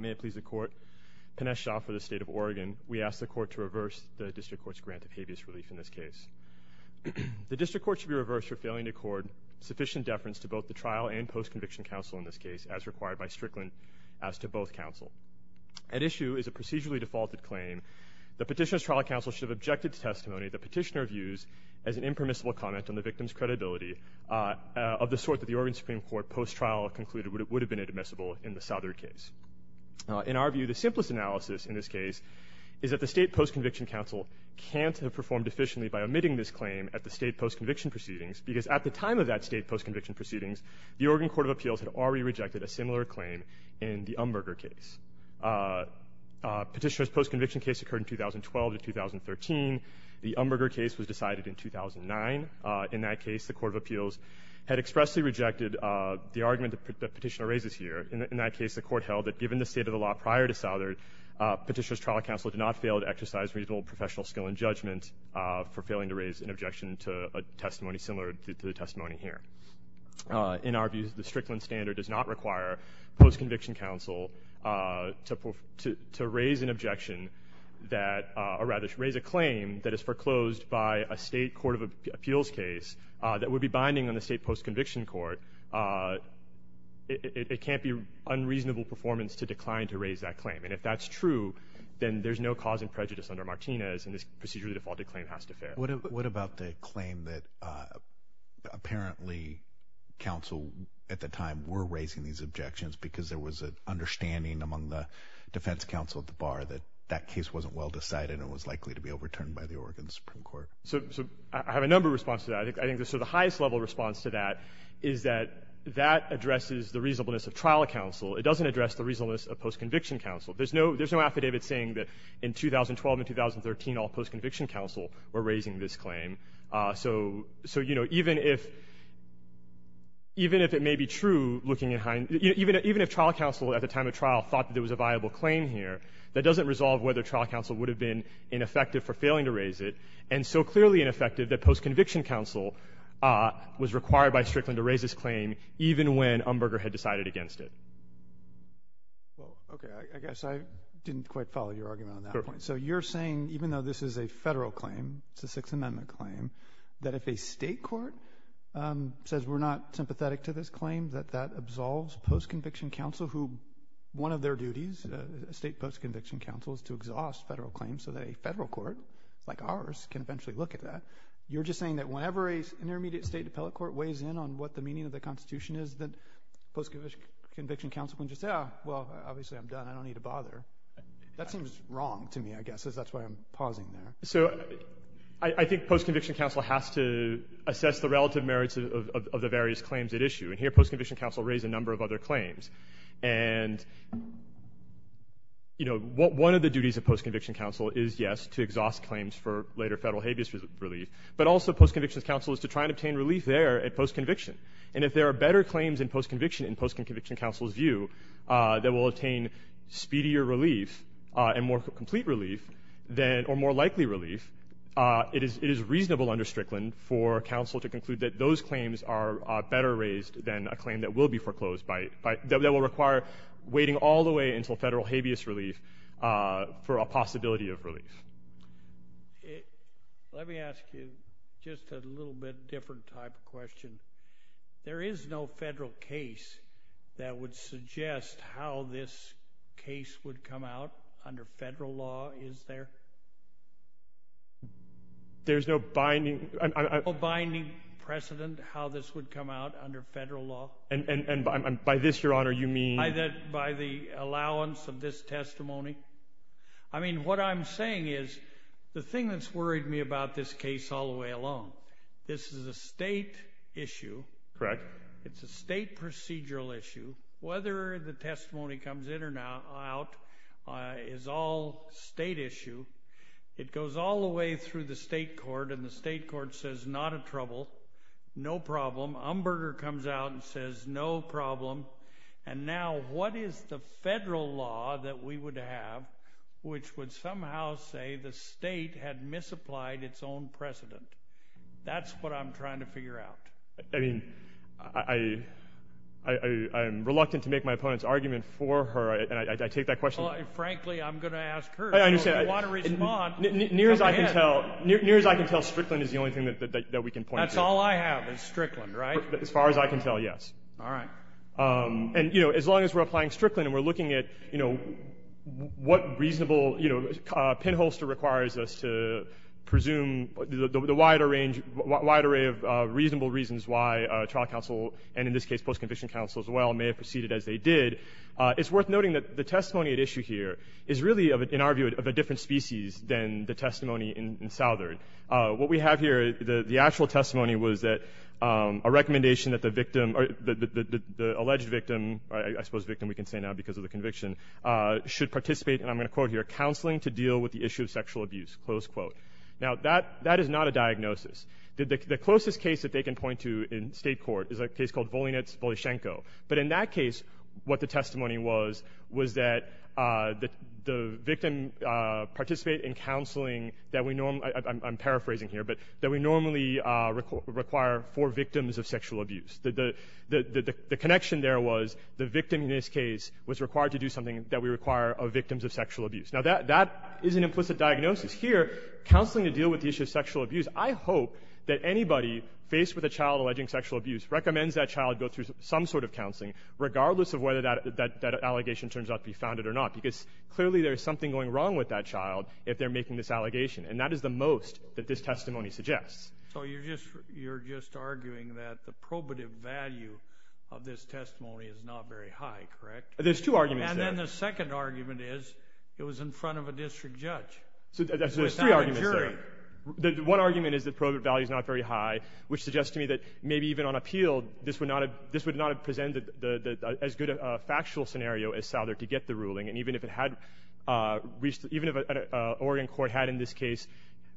May it please the Court, Pinesh Jha for the State of Oregon. We ask the Court to reverse the District Court's grant of habeas relief in this case. The District Court should be reversed for failing to accord sufficient deference to both the trial and post-conviction counsel in this case, as required by Strickland as to both counsel. At issue is a procedurally defaulted claim. The petitioner's trial counsel should have objected to testimony the petitioner views as an impermissible comment on the victim's credibility, of the sort that the Oregon Supreme Court post-trial concluded would have been admissible in the Southard case. In our view, the simplest analysis in this case is that the state post-conviction counsel can't have performed efficiently by omitting this claim at the state post-conviction proceedings, because at the time of that state post-conviction proceedings, the Oregon Court of Appeals had already rejected a similar claim in the Umberger case. Petitioner's post-conviction case occurred in 2012 to 2013. The Umberger case was decided in 2009. In that case, the Court of Appeals had expressly rejected the argument that the petitioner raises here. In that case, the Court held that given the state of the law prior to Southard, petitioner's trial counsel did not fail to exercise reasonable professional skill in judgment for failing to raise an objection to a testimony similar to the testimony here. In our view, the Strickland standard does not require post-conviction counsel to raise an objection that, or rather to raise a claim that is foreclosed by a state Court of Appeals case that would be binding on the state post-conviction court. It can't be unreasonable performance to decline to raise that claim. And if that's true, then there's no cause in prejudice under Martinez, and this procedurally defaulted claim has to fail. What about the claim that apparently counsel at the time were raising these objections because there was an understanding among the defense counsel at the bar that that case wasn't well decided and was likely to be overturned by the Oregon Supreme Court? So I have a number of responses to that. I think sort of the highest level response to that is that that addresses the reasonableness of trial counsel. It doesn't address the reasonableness of post-conviction counsel. There's no affidavit saying that in 2012 and 2013 all post-conviction counsel were raising this claim. So, you know, even if it may be true, looking at high end, even if trial counsel at the time of trial thought there was a viable claim here, that doesn't resolve whether trial counsel would have been ineffective for failing to raise it and so clearly ineffective that post-conviction counsel was required by Strickland to raise this claim even when Umberger had decided against it. Well, okay, I guess I didn't quite follow your argument on that point. So you're saying even though this is a federal claim, it's a Sixth Amendment claim, that if a state court says we're not sympathetic to this claim that that absolves post-conviction counsel who one of their duties, state post-conviction counsel, is to exhaust federal claims so that a federal court like ours can eventually look at that. You're just saying that whenever an intermediate state appellate court weighs in on what the meaning of the Constitution is that post-conviction counsel can just say, oh, well, obviously I'm done. I don't need to bother. That seems wrong to me, I guess, as that's why I'm pausing there. So I think post-conviction counsel has to assess the relative merits of the various claims at issue, and here post-conviction counsel raised a number of other claims. And, you know, one of the duties of post-conviction counsel is, yes, to exhaust claims for later federal habeas relief, but also post-conviction counsel is to try and obtain relief there at post-conviction. And if there are better claims in post-conviction, in post-conviction counsel's view, that will attain speedier relief and more complete relief or more likely relief, it is reasonable under Strickland for counsel to conclude that those claims are better raised than a claim that will be foreclosed that will require waiting all the way until federal habeas relief for a possibility of relief. Let me ask you just a little bit different type of question. There is no federal case that would suggest how this case would come out under federal law, is there? There's no binding precedent how this would come out under federal law. And by this, Your Honor, you mean? By the allowance of this testimony. I mean, what I'm saying is the thing that's worried me about this case all the way along, this is a state issue. Correct. It's a state procedural issue. Whether the testimony comes in or out is all state issue. It goes all the way through the state court and the state court says not a trouble, no problem. Umberger comes out and says no problem. And now what is the federal law that we would have which would somehow say the state had misapplied its own precedent? That's what I'm trying to figure out. I mean, I'm reluctant to make my opponent's argument for her, and I take that question. Frankly, I'm going to ask her. If you want to respond, go ahead. Near as I can tell, Strickland is the only thing that we can point to. That's all I have is Strickland, right? As far as I can tell, yes. All right. And, you know, as long as we're applying Strickland and we're looking at, you know, what reasonable, you know, pinholster requires us to presume the wider range, wide array of reasonable reasons why trial counsel, and in this case post-conviction counsel as well, may have proceeded as they did. It's worth noting that the testimony at issue here is really, in our view, of a different species than the testimony in Southern. What we have here, the actual testimony was that a recommendation that the victim or the alleged victim, I suppose victim we can say now because of the conviction, should participate, and I'm going to quote here, counseling to deal with the issue of sexual abuse, close quote. Now, that is not a diagnosis. The closest case that they can point to in state court is a case called Volinets-Volyshenko. But in that case, what the testimony was, was that the victim participate in counseling that we normally, I'm paraphrasing here, but that we normally require for victims of sexual abuse. The connection there was the victim in this case was required to do something that we require of victims of sexual abuse. Now, that is an implicit diagnosis. Here, counseling to deal with the issue of sexual abuse, I hope that anybody faced with a child alleging sexual abuse recommends that child go through some sort of counseling, regardless of whether that allegation turns out to be founded or not, because clearly there is something going wrong with that child if they're making this allegation. And that is the most that this testimony suggests. So you're just arguing that the probative value of this testimony is not very high, correct? There's two arguments there. And then the second argument is it was in front of a district judge without a jury. So there's three arguments there. One argument is the probative value is not very high, which suggests to me that maybe even on appeal, this would not have presented as good a factual scenario as Souther to get the ruling. And even if an Oregon court had in this case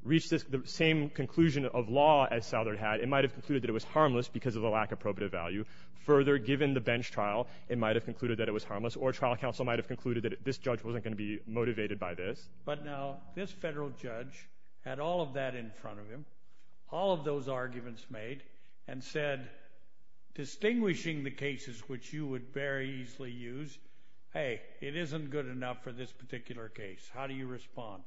reached the same conclusion of law as Souther had, it might have concluded that it was harmless because of the lack of probative value. Further, given the bench trial, it might have concluded that it was harmless, or trial counsel might have concluded that this judge wasn't going to be motivated by this. But now this federal judge had all of that in front of him, all of those arguments made, and said, distinguishing the cases which you would very easily use, hey, it isn't good enough for this particular case. How do you respond?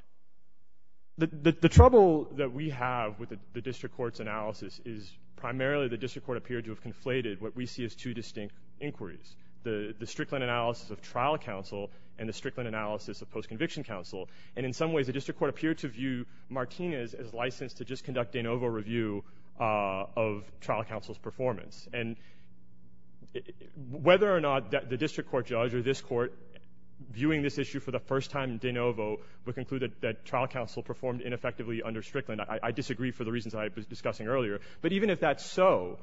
The trouble that we have with the district court's analysis is primarily the district court appeared to have conflated what we see as two distinct inquiries, the Strickland analysis of trial counsel and the Strickland analysis of post-conviction counsel. And in some ways the district court appeared to view Martinez as licensed to just conduct de novo review of trial counsel's performance. And whether or not the district court judge or this court, viewing this issue for the first time de novo, would conclude that trial counsel performed ineffectively under Strickland, I disagree for the reasons I was discussing earlier. But even if that's so,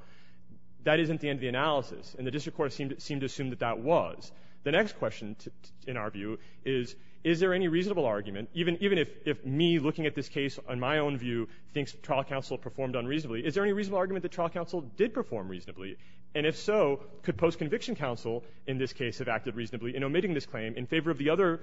that isn't the end of the analysis, and the district court seemed to assume that that was. The next question in our view is, is there any reasonable argument, even if me looking at this case on my own view thinks trial counsel performed unreasonably, is there any reasonable argument that trial counsel did perform reasonably? And if so, could post-conviction counsel in this case have acted reasonably in omitting this claim in favor of the other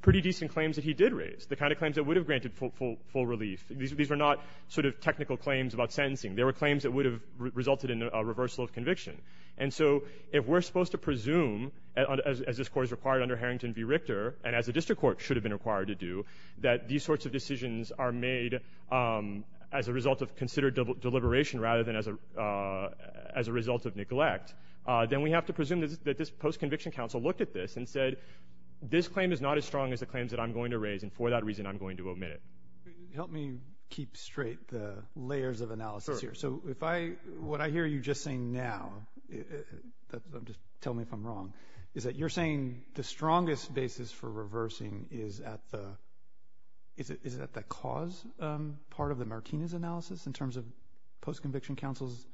pretty decent claims that he did raise, the kind of claims that would have granted full relief? These were not sort of technical claims about sentencing. They were claims that would have resulted in a reversal of conviction. And so if we're supposed to presume, as this court has required under Harrington v. Richter, and as the district court should have been required to do, that these sorts of decisions are made as a result of considered deliberation rather than as a result of neglect, then we have to presume that this post-conviction counsel looked at this and said, this claim is not as strong as the claims that I'm going to raise, and for that reason I'm going to omit it. Help me keep straight the layers of analysis here. So what I hear you just saying now, just tell me if I'm wrong, is that you're saying the strongest basis for reversing is at the cause part of the Martinez analysis in terms of post-conviction counsel's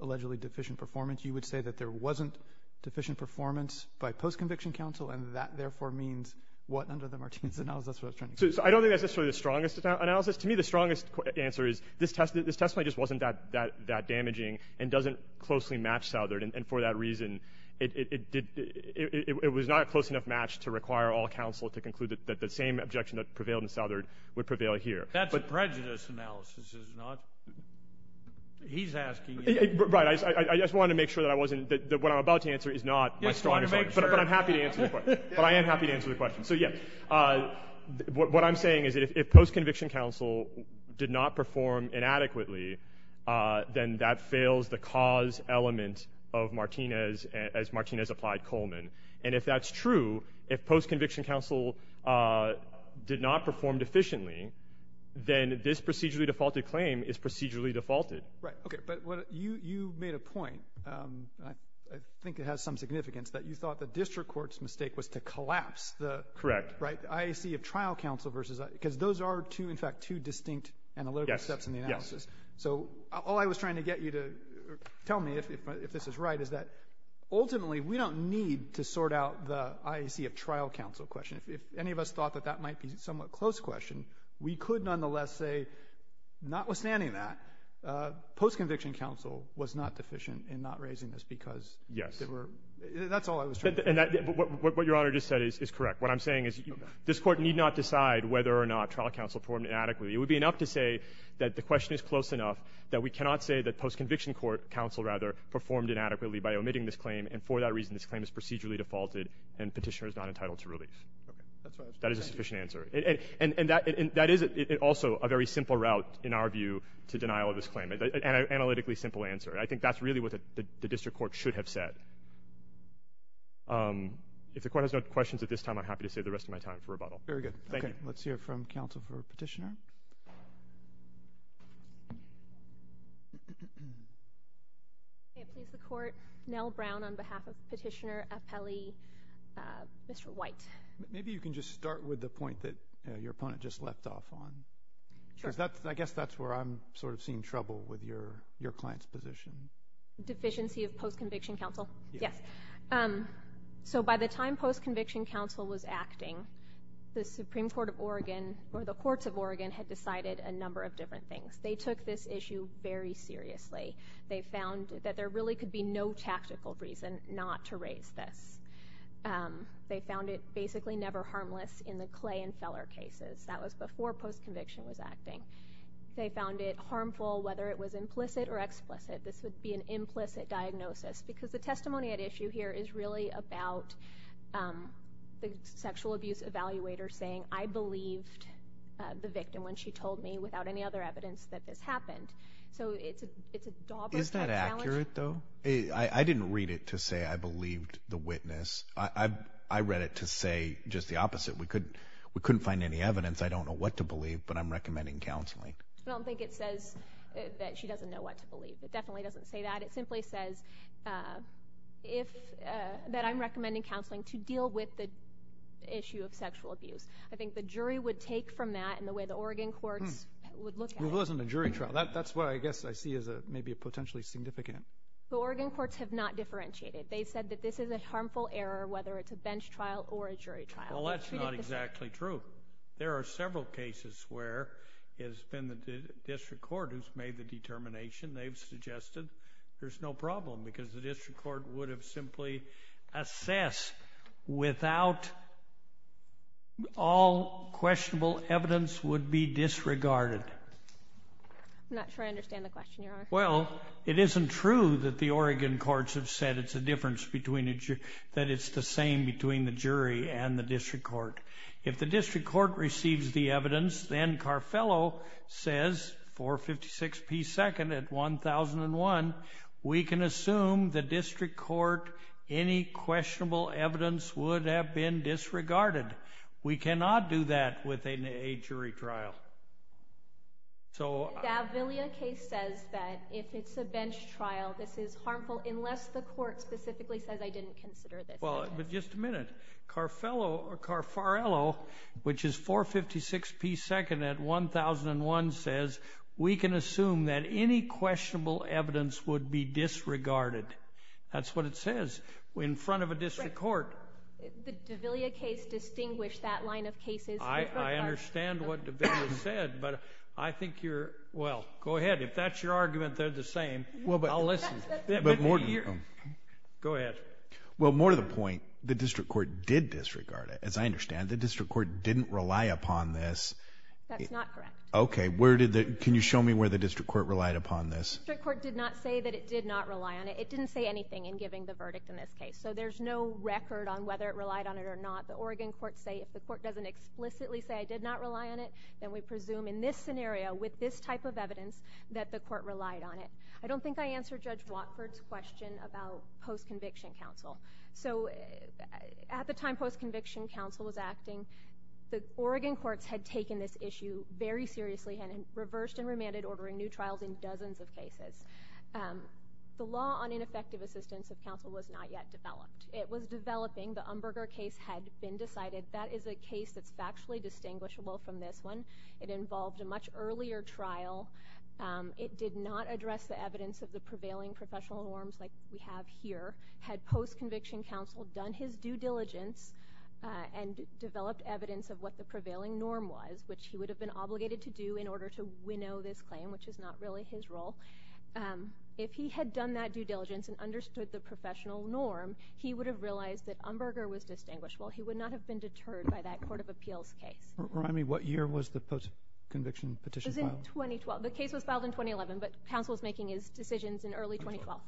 allegedly deficient performance. You would say that there wasn't deficient performance by post-conviction counsel, and that therefore means what under the Martinez analysis? I don't think that's necessarily the strongest analysis. To me, the strongest answer is this testimony just wasn't that damaging and doesn't closely match Southard, and for that reason it was not a close enough match to require all counsel to conclude that the same objection that prevailed in Southard would prevail here. That's a prejudice analysis, is it not? He's asking you. Right. I just wanted to make sure that what I'm about to answer is not my strongest argument. But I am happy to answer the question. So, yeah, what I'm saying is that if post-conviction counsel did not perform inadequately, then that fails the cause element of Martinez as Martinez applied Coleman. And if that's true, if post-conviction counsel did not perform deficiently, then this procedurally defaulted claim is procedurally defaulted. Right. Okay. But you made a point, I think it has some significance, that you thought the district court's mistake was to collapse the IAC of trial counsel, because those are, in fact, two distinct analytical steps in the analysis. So all I was trying to get you to tell me, if this is right, is that ultimately we don't need to sort out the IAC of trial counsel question. If any of us thought that that might be a somewhat close question, we could nonetheless say, notwithstanding that, post-conviction counsel was not deficient in not raising this because that's all I was trying to say. What Your Honor just said is correct. What I'm saying is this court need not decide whether or not trial counsel performed inadequately. It would be enough to say that the question is close enough that we cannot say that post-conviction counsel, rather, performed inadequately by omitting this claim, and for that reason this claim is procedurally defaulted and petitioner is not entitled to release. That is a sufficient answer. And that is also a very simple route, in our view, to denial of this claim, an analytically simple answer. I think that's really what the district court should have said. If the court has no questions at this time, I'm happy to save the rest of my time for rebuttal. Very good. Thank you. Let's hear from counsel for petitioner. I please the court. Nell Brown on behalf of petitioner, appellee, Mr. White. Maybe you can just start with the point that your opponent just left off on. I guess that's where I'm sort of seeing trouble with your client's position. Deficiency of post-conviction counsel? Yes. So by the time post-conviction counsel was acting, the Supreme Court of Oregon, or the courts of Oregon, had decided a number of different things. They took this issue very seriously. They found that there really could be no tactical reason not to raise this. They found it basically never harmless in the Clay and Feller cases. That was before post-conviction was acting. They found it harmful whether it was implicit or explicit. This would be an implicit diagnosis because the testimony at issue here is really about the sexual abuse evaluator saying, I believed the victim when she told me without any other evidence that this happened. So it's a dauber-type challenge. Is that accurate, though? I didn't read it to say I believed the witness. I read it to say just the opposite. We couldn't find any evidence. I don't know what to believe, but I'm recommending counseling. I don't think it says that she doesn't know what to believe. It definitely doesn't say that. It simply says that I'm recommending counseling to deal with the issue of sexual abuse. I think the jury would take from that and the way the Oregon courts would look at it. It wasn't a jury trial. That's what I guess I see as maybe a potentially significant. The Oregon courts have not differentiated. They said that this is a harmful error whether it's a bench trial or a jury trial. Well, that's not exactly true. There are several cases where it's been the district court who's made the determination. They've suggested there's no problem because the district court would have simply assessed without all questionable evidence would be disregarded. I'm not sure I understand the question, Your Honor. Well, it isn't true that the Oregon courts have said it's a difference between a jury that it's the same between the jury and the district court. If the district court receives the evidence, then Carfello says 456 P. 2nd at 1001, we can assume the district court, any questionable evidence would have been disregarded. We cannot do that within a jury trial. The Davilia case says that if it's a bench trial, this is harmful unless the court specifically says I didn't consider this. Well, but just a minute. Carfello or Carfarello, which is 456 P. 2nd at 1001, says we can assume that any questionable evidence would be disregarded. That's what it says in front of a district court. The Davilia case distinguished that line of cases. I understand what Davilia said, but I think you're—well, go ahead. If that's your argument, they're the same. I'll listen. Go ahead. Well, more to the point, the district court did disregard it, as I understand. The district court didn't rely upon this. That's not correct. Okay. Can you show me where the district court relied upon this? The district court did not say that it did not rely on it. It didn't say anything in giving the verdict in this case. So there's no record on whether it relied on it or not. The Oregon courts say if the court doesn't explicitly say I did not rely on it, then we presume in this scenario with this type of evidence that the court relied on it. I don't think I answered Judge Watford's question about post-conviction counsel. So at the time post-conviction counsel was acting, the Oregon courts had taken this issue very seriously and had reversed and remanded ordering new trials in dozens of cases. The law on ineffective assistance of counsel was not yet developed. It was developing. The Umberger case had been decided. That is a case that's factually distinguishable from this one. It involved a much earlier trial. It did not address the evidence of the prevailing professional norms like we have here. Had post-conviction counsel done his due diligence and developed evidence of what the prevailing norm was, which he would have been obligated to do in order to winnow this claim, which is not really his role, if he had done that due diligence and understood the professional norm, he would have realized that Umberger was distinguishable. He would not have been deterred by that court of appeals case. Remind me, what year was the post-conviction petition filed? 2012. The case was filed in 2011, but counsel was making his decisions in early 2012.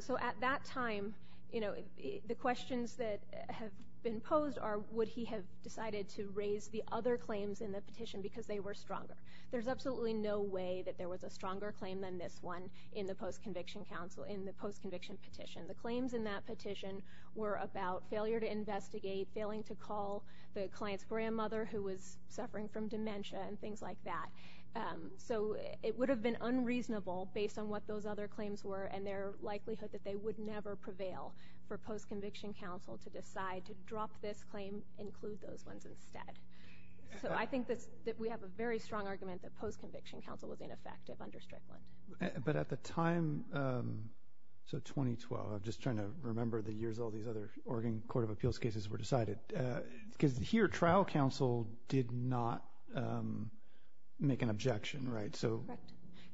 So at that time, the questions that have been posed are would he have decided to raise the other claims in the petition because they were stronger. There's absolutely no way that there was a stronger claim than this one in the post-conviction petition. The claims in that petition were about failure to investigate, failing to call the client's grandmother who was suffering from dementia, and things like that. So it would have been unreasonable, based on what those other claims were and their likelihood that they would never prevail for post-conviction counsel to decide to drop this claim, include those ones instead. So I think that we have a very strong argument that post-conviction counsel was ineffective under Strickland. But at the time, so 2012, I'm just trying to remember the years all these other Oregon Court of Appeals cases were decided. Because here, trial counsel did not make an objection, right?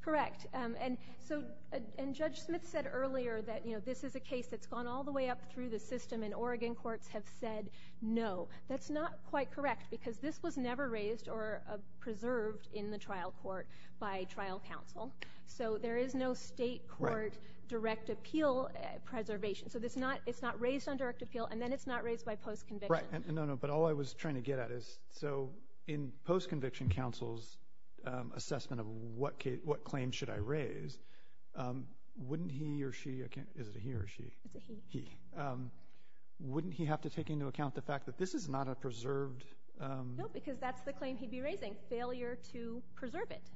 Correct. And Judge Smith said earlier that this is a case that's gone all the way up through the system, and Oregon courts have said no. That's not quite correct, because this was never raised or preserved in the trial court by trial counsel. So there is no state court direct appeal preservation. So it's not raised under direct appeal, and then it's not raised by post-conviction. Right. No, no. But all I was trying to get at is, so in post-conviction counsel's assessment of what claims should I raise, wouldn't he or she – is it a he or a she? It's a he. Wouldn't he have to take into account the fact that this is not a preserved – No, because that's the claim he'd be raising, failure to preserve it.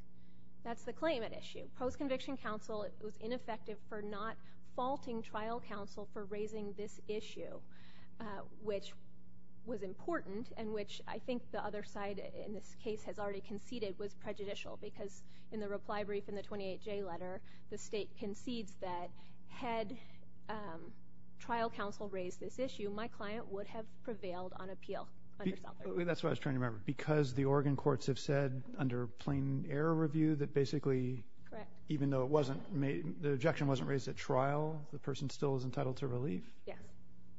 That's the claim at issue. Post-conviction counsel was ineffective for not faulting trial counsel for raising this issue, which was important and which I think the other side in this case has already conceded was prejudicial because in the reply brief in the 28J letter, the state concedes that had trial counsel raised this issue, my client would have prevailed on appeal. That's what I was trying to remember. Because the Oregon courts have said under plain error review that basically even though it wasn't – the objection wasn't raised at trial, the person still is entitled to relief? Yes.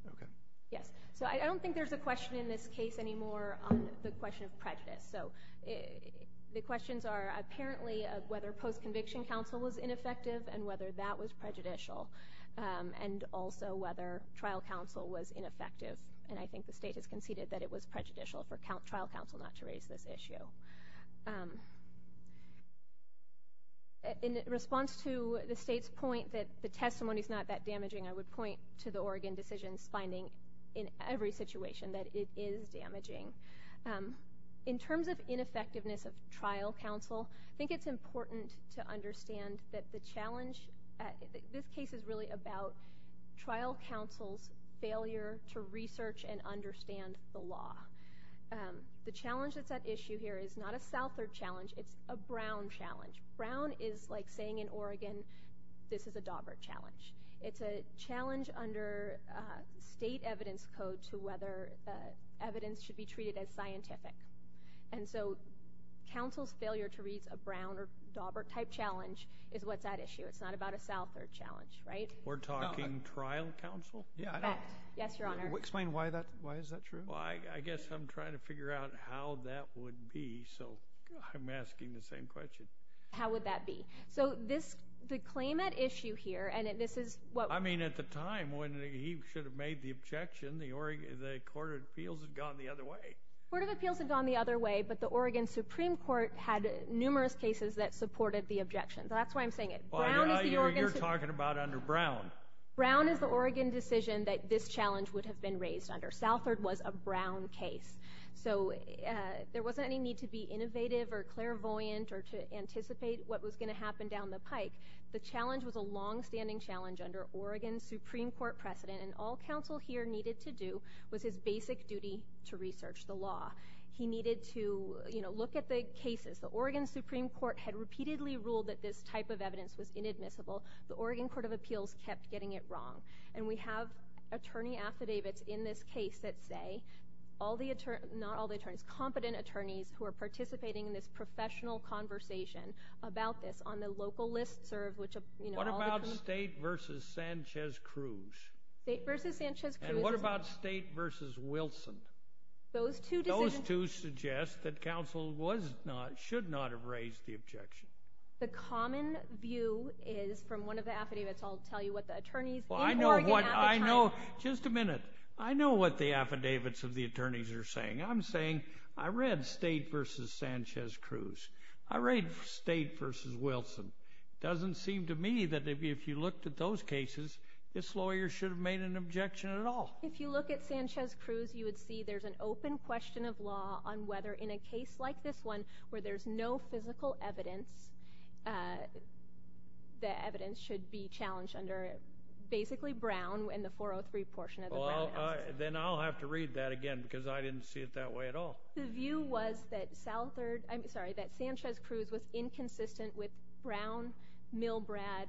Okay. Yes. So I don't think there's a question in this case anymore on the question of prejudice. So the questions are apparently whether post-conviction counsel was ineffective and whether that was prejudicial, and also whether trial counsel was ineffective. And I think the state has conceded that it was prejudicial for trial counsel not to raise this issue. In response to the state's point that the testimony is not that damaging, I would point to the Oregon decision's finding in every situation that it is damaging. In terms of ineffectiveness of trial counsel, I think it's important to understand that the challenge – this case is really about trial counsel's failure to research and understand the law. The challenge that's at issue here is not a Southard challenge. It's a Brown challenge. Brown is like saying in Oregon, this is a Dawbert challenge. It's a challenge under state evidence code to whether evidence should be treated as scientific. And so counsel's failure to raise a Brown or Dawbert-type challenge is what's at issue. It's not about a Southard challenge, right? We're talking trial counsel? Yes, Your Honor. Explain why is that true? Well, I guess I'm trying to figure out how that would be, so I'm asking the same question. How would that be? So the claim at issue here, and this is what – I mean at the time when he should have made the objection, the Court of Appeals had gone the other way. The Court of Appeals had gone the other way, but the Oregon Supreme Court had numerous cases that supported the objection. That's why I'm saying it. You're talking about under Brown. Brown is the Oregon decision that this challenge would have been raised under. Southard was a Brown case. So there wasn't any need to be innovative or clairvoyant or to anticipate what was going to happen down the pike. The challenge was a longstanding challenge under Oregon's Supreme Court precedent, and all counsel here needed to do was his basic duty to research the law. He needed to look at the cases. The Oregon Supreme Court had repeatedly ruled that this type of evidence was inadmissible. The Oregon Court of Appeals kept getting it wrong, and we have attorney affidavits in this case that say all the attorneys – not all the attorneys, competent attorneys who are participating in this professional conversation about this on the local listserv, which – What about State v. Sanchez-Cruz? State v. Sanchez-Cruz is – And what about State v. Wilson? Those two decisions – The common view is, from one of the affidavits, I'll tell you what the attorneys in Oregon – Well, I know what – I know – just a minute. I know what the affidavits of the attorneys are saying. I'm saying I read State v. Sanchez-Cruz. I read State v. Wilson. It doesn't seem to me that if you looked at those cases, this lawyer should have made an objection at all. If you look at Sanchez-Cruz, you would see there's an open question of law on whether in a case like this one, where there's no physical evidence, the evidence should be challenged under basically Brown in the 403 portion of the Brown House. Then I'll have to read that again because I didn't see it that way at all. The view was that Sanchez-Cruz was inconsistent with Brown, Milbrad,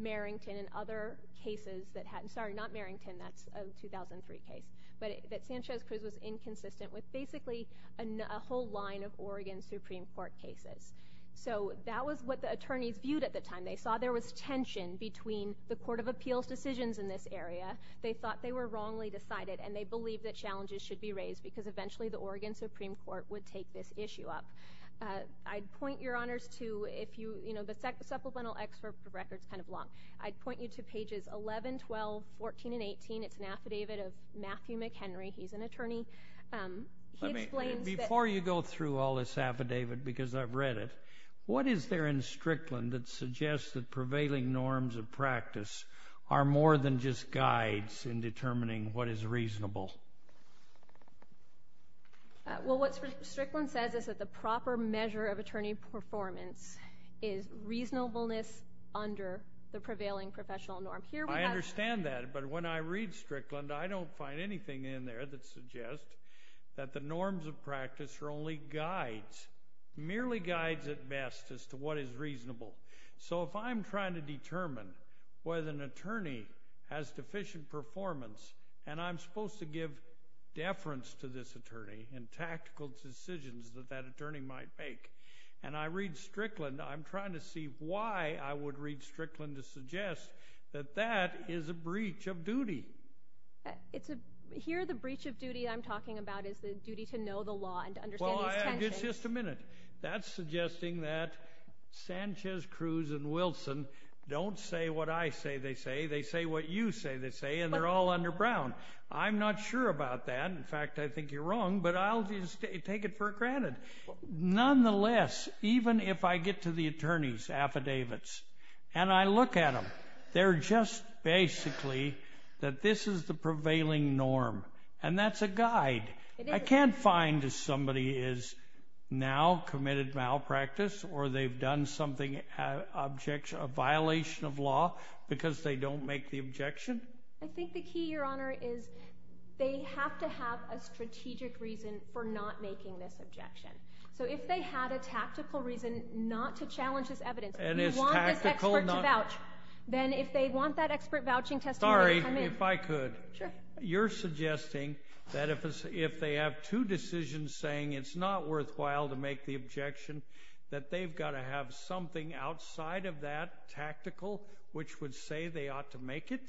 Merrington, and other cases that had – sorry, not Merrington. That's a 2003 case. But that Sanchez-Cruz was inconsistent with basically a whole line of Oregon Supreme Court cases. So that was what the attorneys viewed at the time. They saw there was tension between the Court of Appeals' decisions in this area. They thought they were wrongly decided, and they believed that challenges should be raised because eventually the Oregon Supreme Court would take this issue up. I'd point your honors to – the supplemental excerpt of the record is kind of long. I'd point you to pages 11, 12, 14, and 18. It's an affidavit of Matthew McHenry. He's an attorney. He explains that – Before you go through all this affidavit because I've read it, what is there in Strickland that suggests that prevailing norms of practice are more than just guides in determining what is reasonable? Well, what Strickland says is that the proper measure of attorney performance is reasonableness under the prevailing professional norm. I understand that, but when I read Strickland, I don't find anything in there that suggests that the norms of practice are only guides, merely guides at best as to what is reasonable. So if I'm trying to determine whether an attorney has deficient performance, and I'm supposed to give deference to this attorney in tactical decisions that that attorney might make, and I read Strickland, I'm trying to see why I would read Strickland to suggest that that is a breach of duty. Here the breach of duty I'm talking about is the duty to know the law and to understand these tensions. Well, just a minute. That's suggesting that Sanchez, Cruz, and Wilson don't say what I say they say. They say what you say they say, and they're all under Brown. I'm not sure about that. In fact, I think you're wrong, but I'll just take it for granted. Nonetheless, even if I get to the attorney's affidavits and I look at them, they're just basically that this is the prevailing norm, and that's a guide. I can't find if somebody has now committed malpractice or they've done something, a violation of law, because they don't make the objection. I think the key, Your Honor, is they have to have a strategic reason for not making this objection. So if they had a tactical reason not to challenge this evidence, you want this expert to vouch, then if they want that expert vouching testimony, come in. Sorry, if I could. Sure. You're suggesting that if they have two decisions saying it's not worthwhile to make the objection, that they've got to have something outside of that tactical which would say they ought to make it?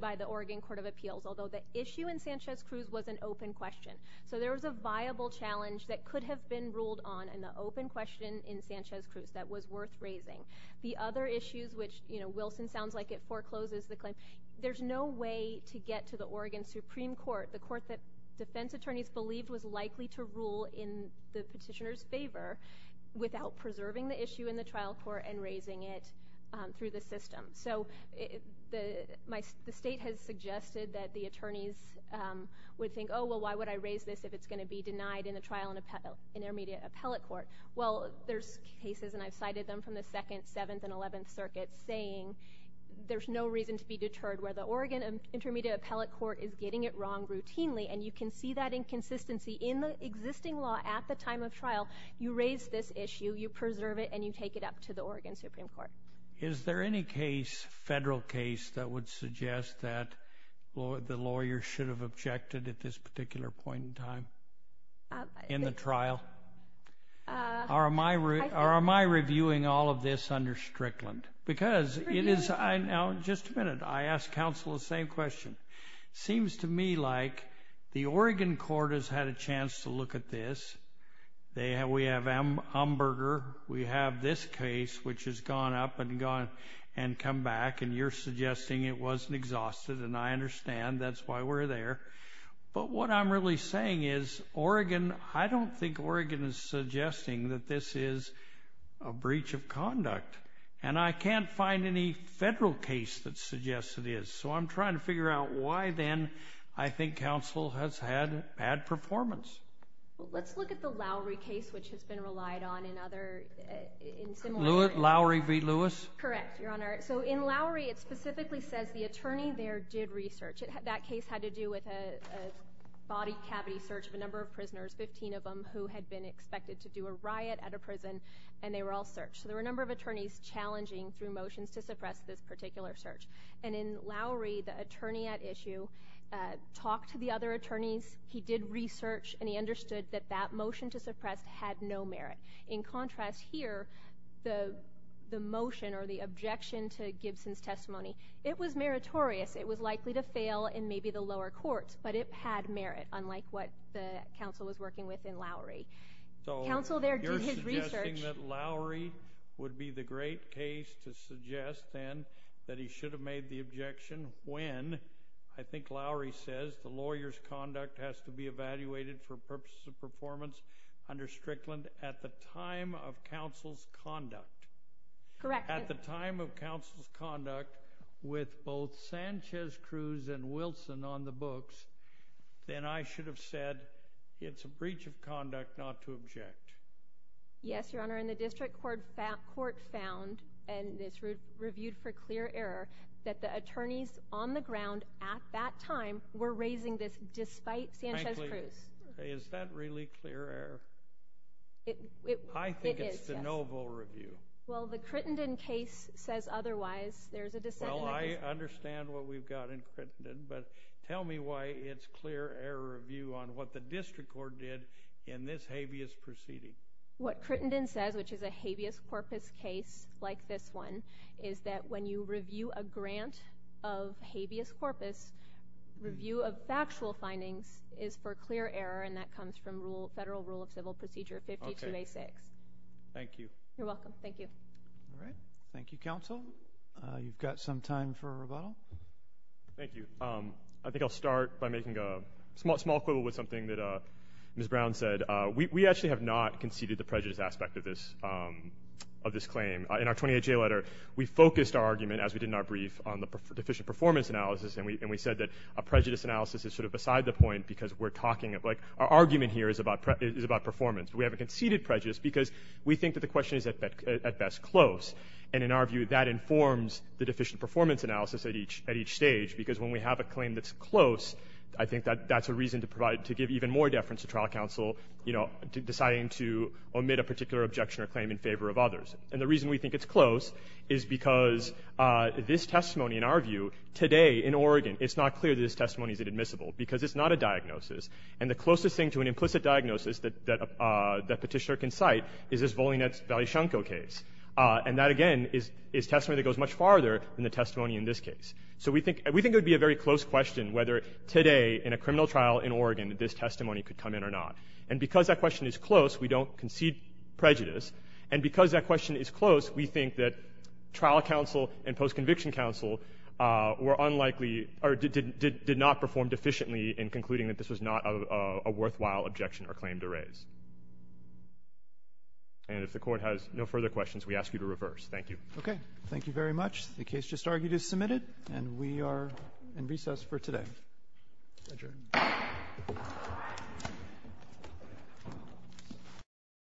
by the Oregon Court of Appeals, although the issue in Sanchez-Cruz was an open question. So there was a viable challenge that could have been ruled on in the open question in Sanchez-Cruz that was worth raising. The other issues, which Wilson sounds like it forecloses the claim, there's no way to get to the Oregon Supreme Court, the court that defense attorneys believed was likely to rule in the petitioner's favor, without preserving the issue in the trial court and raising it through the system. So the state has suggested that the attorneys would think, oh, well, why would I raise this if it's going to be denied in the trial and intermediate appellate court? Well, there's cases, and I've cited them from the 2nd, 7th, and 11th circuits, saying there's no reason to be deterred. Where the Oregon Intermediate Appellate Court is getting it wrong routinely, and you can see that inconsistency in the existing law at the time of trial, you raise this issue, you preserve it, and you take it up to the Oregon Supreme Court. Is there any case, federal case, that would suggest that the lawyer should have objected at this particular point in time in the trial? Or am I reviewing all of this under Strickland? Because it is, just a minute, I asked counsel the same question. Seems to me like the Oregon court has had a chance to look at this. We have Umberger, we have this case, which has gone up and come back, and you're suggesting it wasn't exhausted, and I understand, that's why we're there. But what I'm really saying is, Oregon, I don't think Oregon is suggesting that this is a breach of conduct. And I can't find any federal case that suggests it is. So I'm trying to figure out why, then, I think counsel has had bad performance. Let's look at the Lowry case, which has been relied on in other, in similar ways. Lowry v. Lewis? Correct, Your Honor. So in Lowry, it specifically says the attorney there did research. That case had to do with a body cavity search of a number of prisoners, 15 of them who had been expected to do a riot at a prison, and they were all searched. So there were a number of attorneys challenging through motions to suppress this particular search. And in Lowry, the attorney at issue talked to the other attorneys. He did research, and he understood that that motion to suppress had no merit. In contrast here, the motion or the objection to Gibson's testimony, it was meritorious. It was likely to fail in maybe the lower courts, but it had merit, unlike what the counsel was working with in Lowry. Counsel there did his research. So you're suggesting that Lowry would be the great case to suggest, then, that he should have made the objection when, I think Lowry says, the lawyer's conduct has to be evaluated for purposes of performance under Strickland at the time of counsel's conduct. Correct. At the time of counsel's conduct with both Sanchez, Cruz, and Wilson on the books, then I should have said it's a breach of conduct not to object. Yes, Your Honor, and the district court found, and this was reviewed for clear error, that the attorneys on the ground at that time were raising this despite Sanchez, Cruz. Frankly, is that really clear error? I think it's de novo review. Well, the Crittenden case says otherwise. Well, I understand what we've got in Crittenden, but tell me why it's clear error review on what the district court did in this habeas proceeding. What Crittenden says, which is a habeas corpus case like this one, is that when you review a grant of habeas corpus, review of factual findings is for clear error, and that comes from Federal Rule of Civil Procedure 52A6. Thank you. You're welcome. Thank you. All right. Thank you, counsel. You've got some time for rebuttal. Thank you. I think I'll start by making a small quibble with something that Ms. Brown said. We actually have not conceded the prejudice aspect of this claim. In our 28-J letter, we focused our argument, as we did in our brief, on the deficient performance analysis, and we said that a prejudice analysis is sort of beside the point because we're talking about our argument here is about performance. We haven't conceded prejudice because we think that the question is at best close. And in our view, that informs the deficient performance analysis at each stage because when we have a claim that's close, I think that that's a reason to give even more deference to trial counsel, deciding to omit a particular objection or claim in favor of others. And the reason we think it's close is because this testimony, in our view, today in Oregon, it's not clear that this testimony is admissible because it's not a diagnosis. And the closest thing to an implicit diagnosis that Petitioner can cite is this Volinets-Valeshniko case. And that, again, is testimony that goes much farther than the testimony in this case. So we think it would be a very close question whether today in a criminal trial in Oregon this testimony could come in or not. And because that question is close, we don't concede prejudice. And because that question is close, we think that trial counsel and post-conviction counsel did not perform deficiently in concluding that this was not a worthwhile objection or claim to raise. And if the Court has no further questions, we ask you to reverse. Thank you. Okay. Thank you very much. The case just argued is submitted, and we are in recess for today. Adjourned.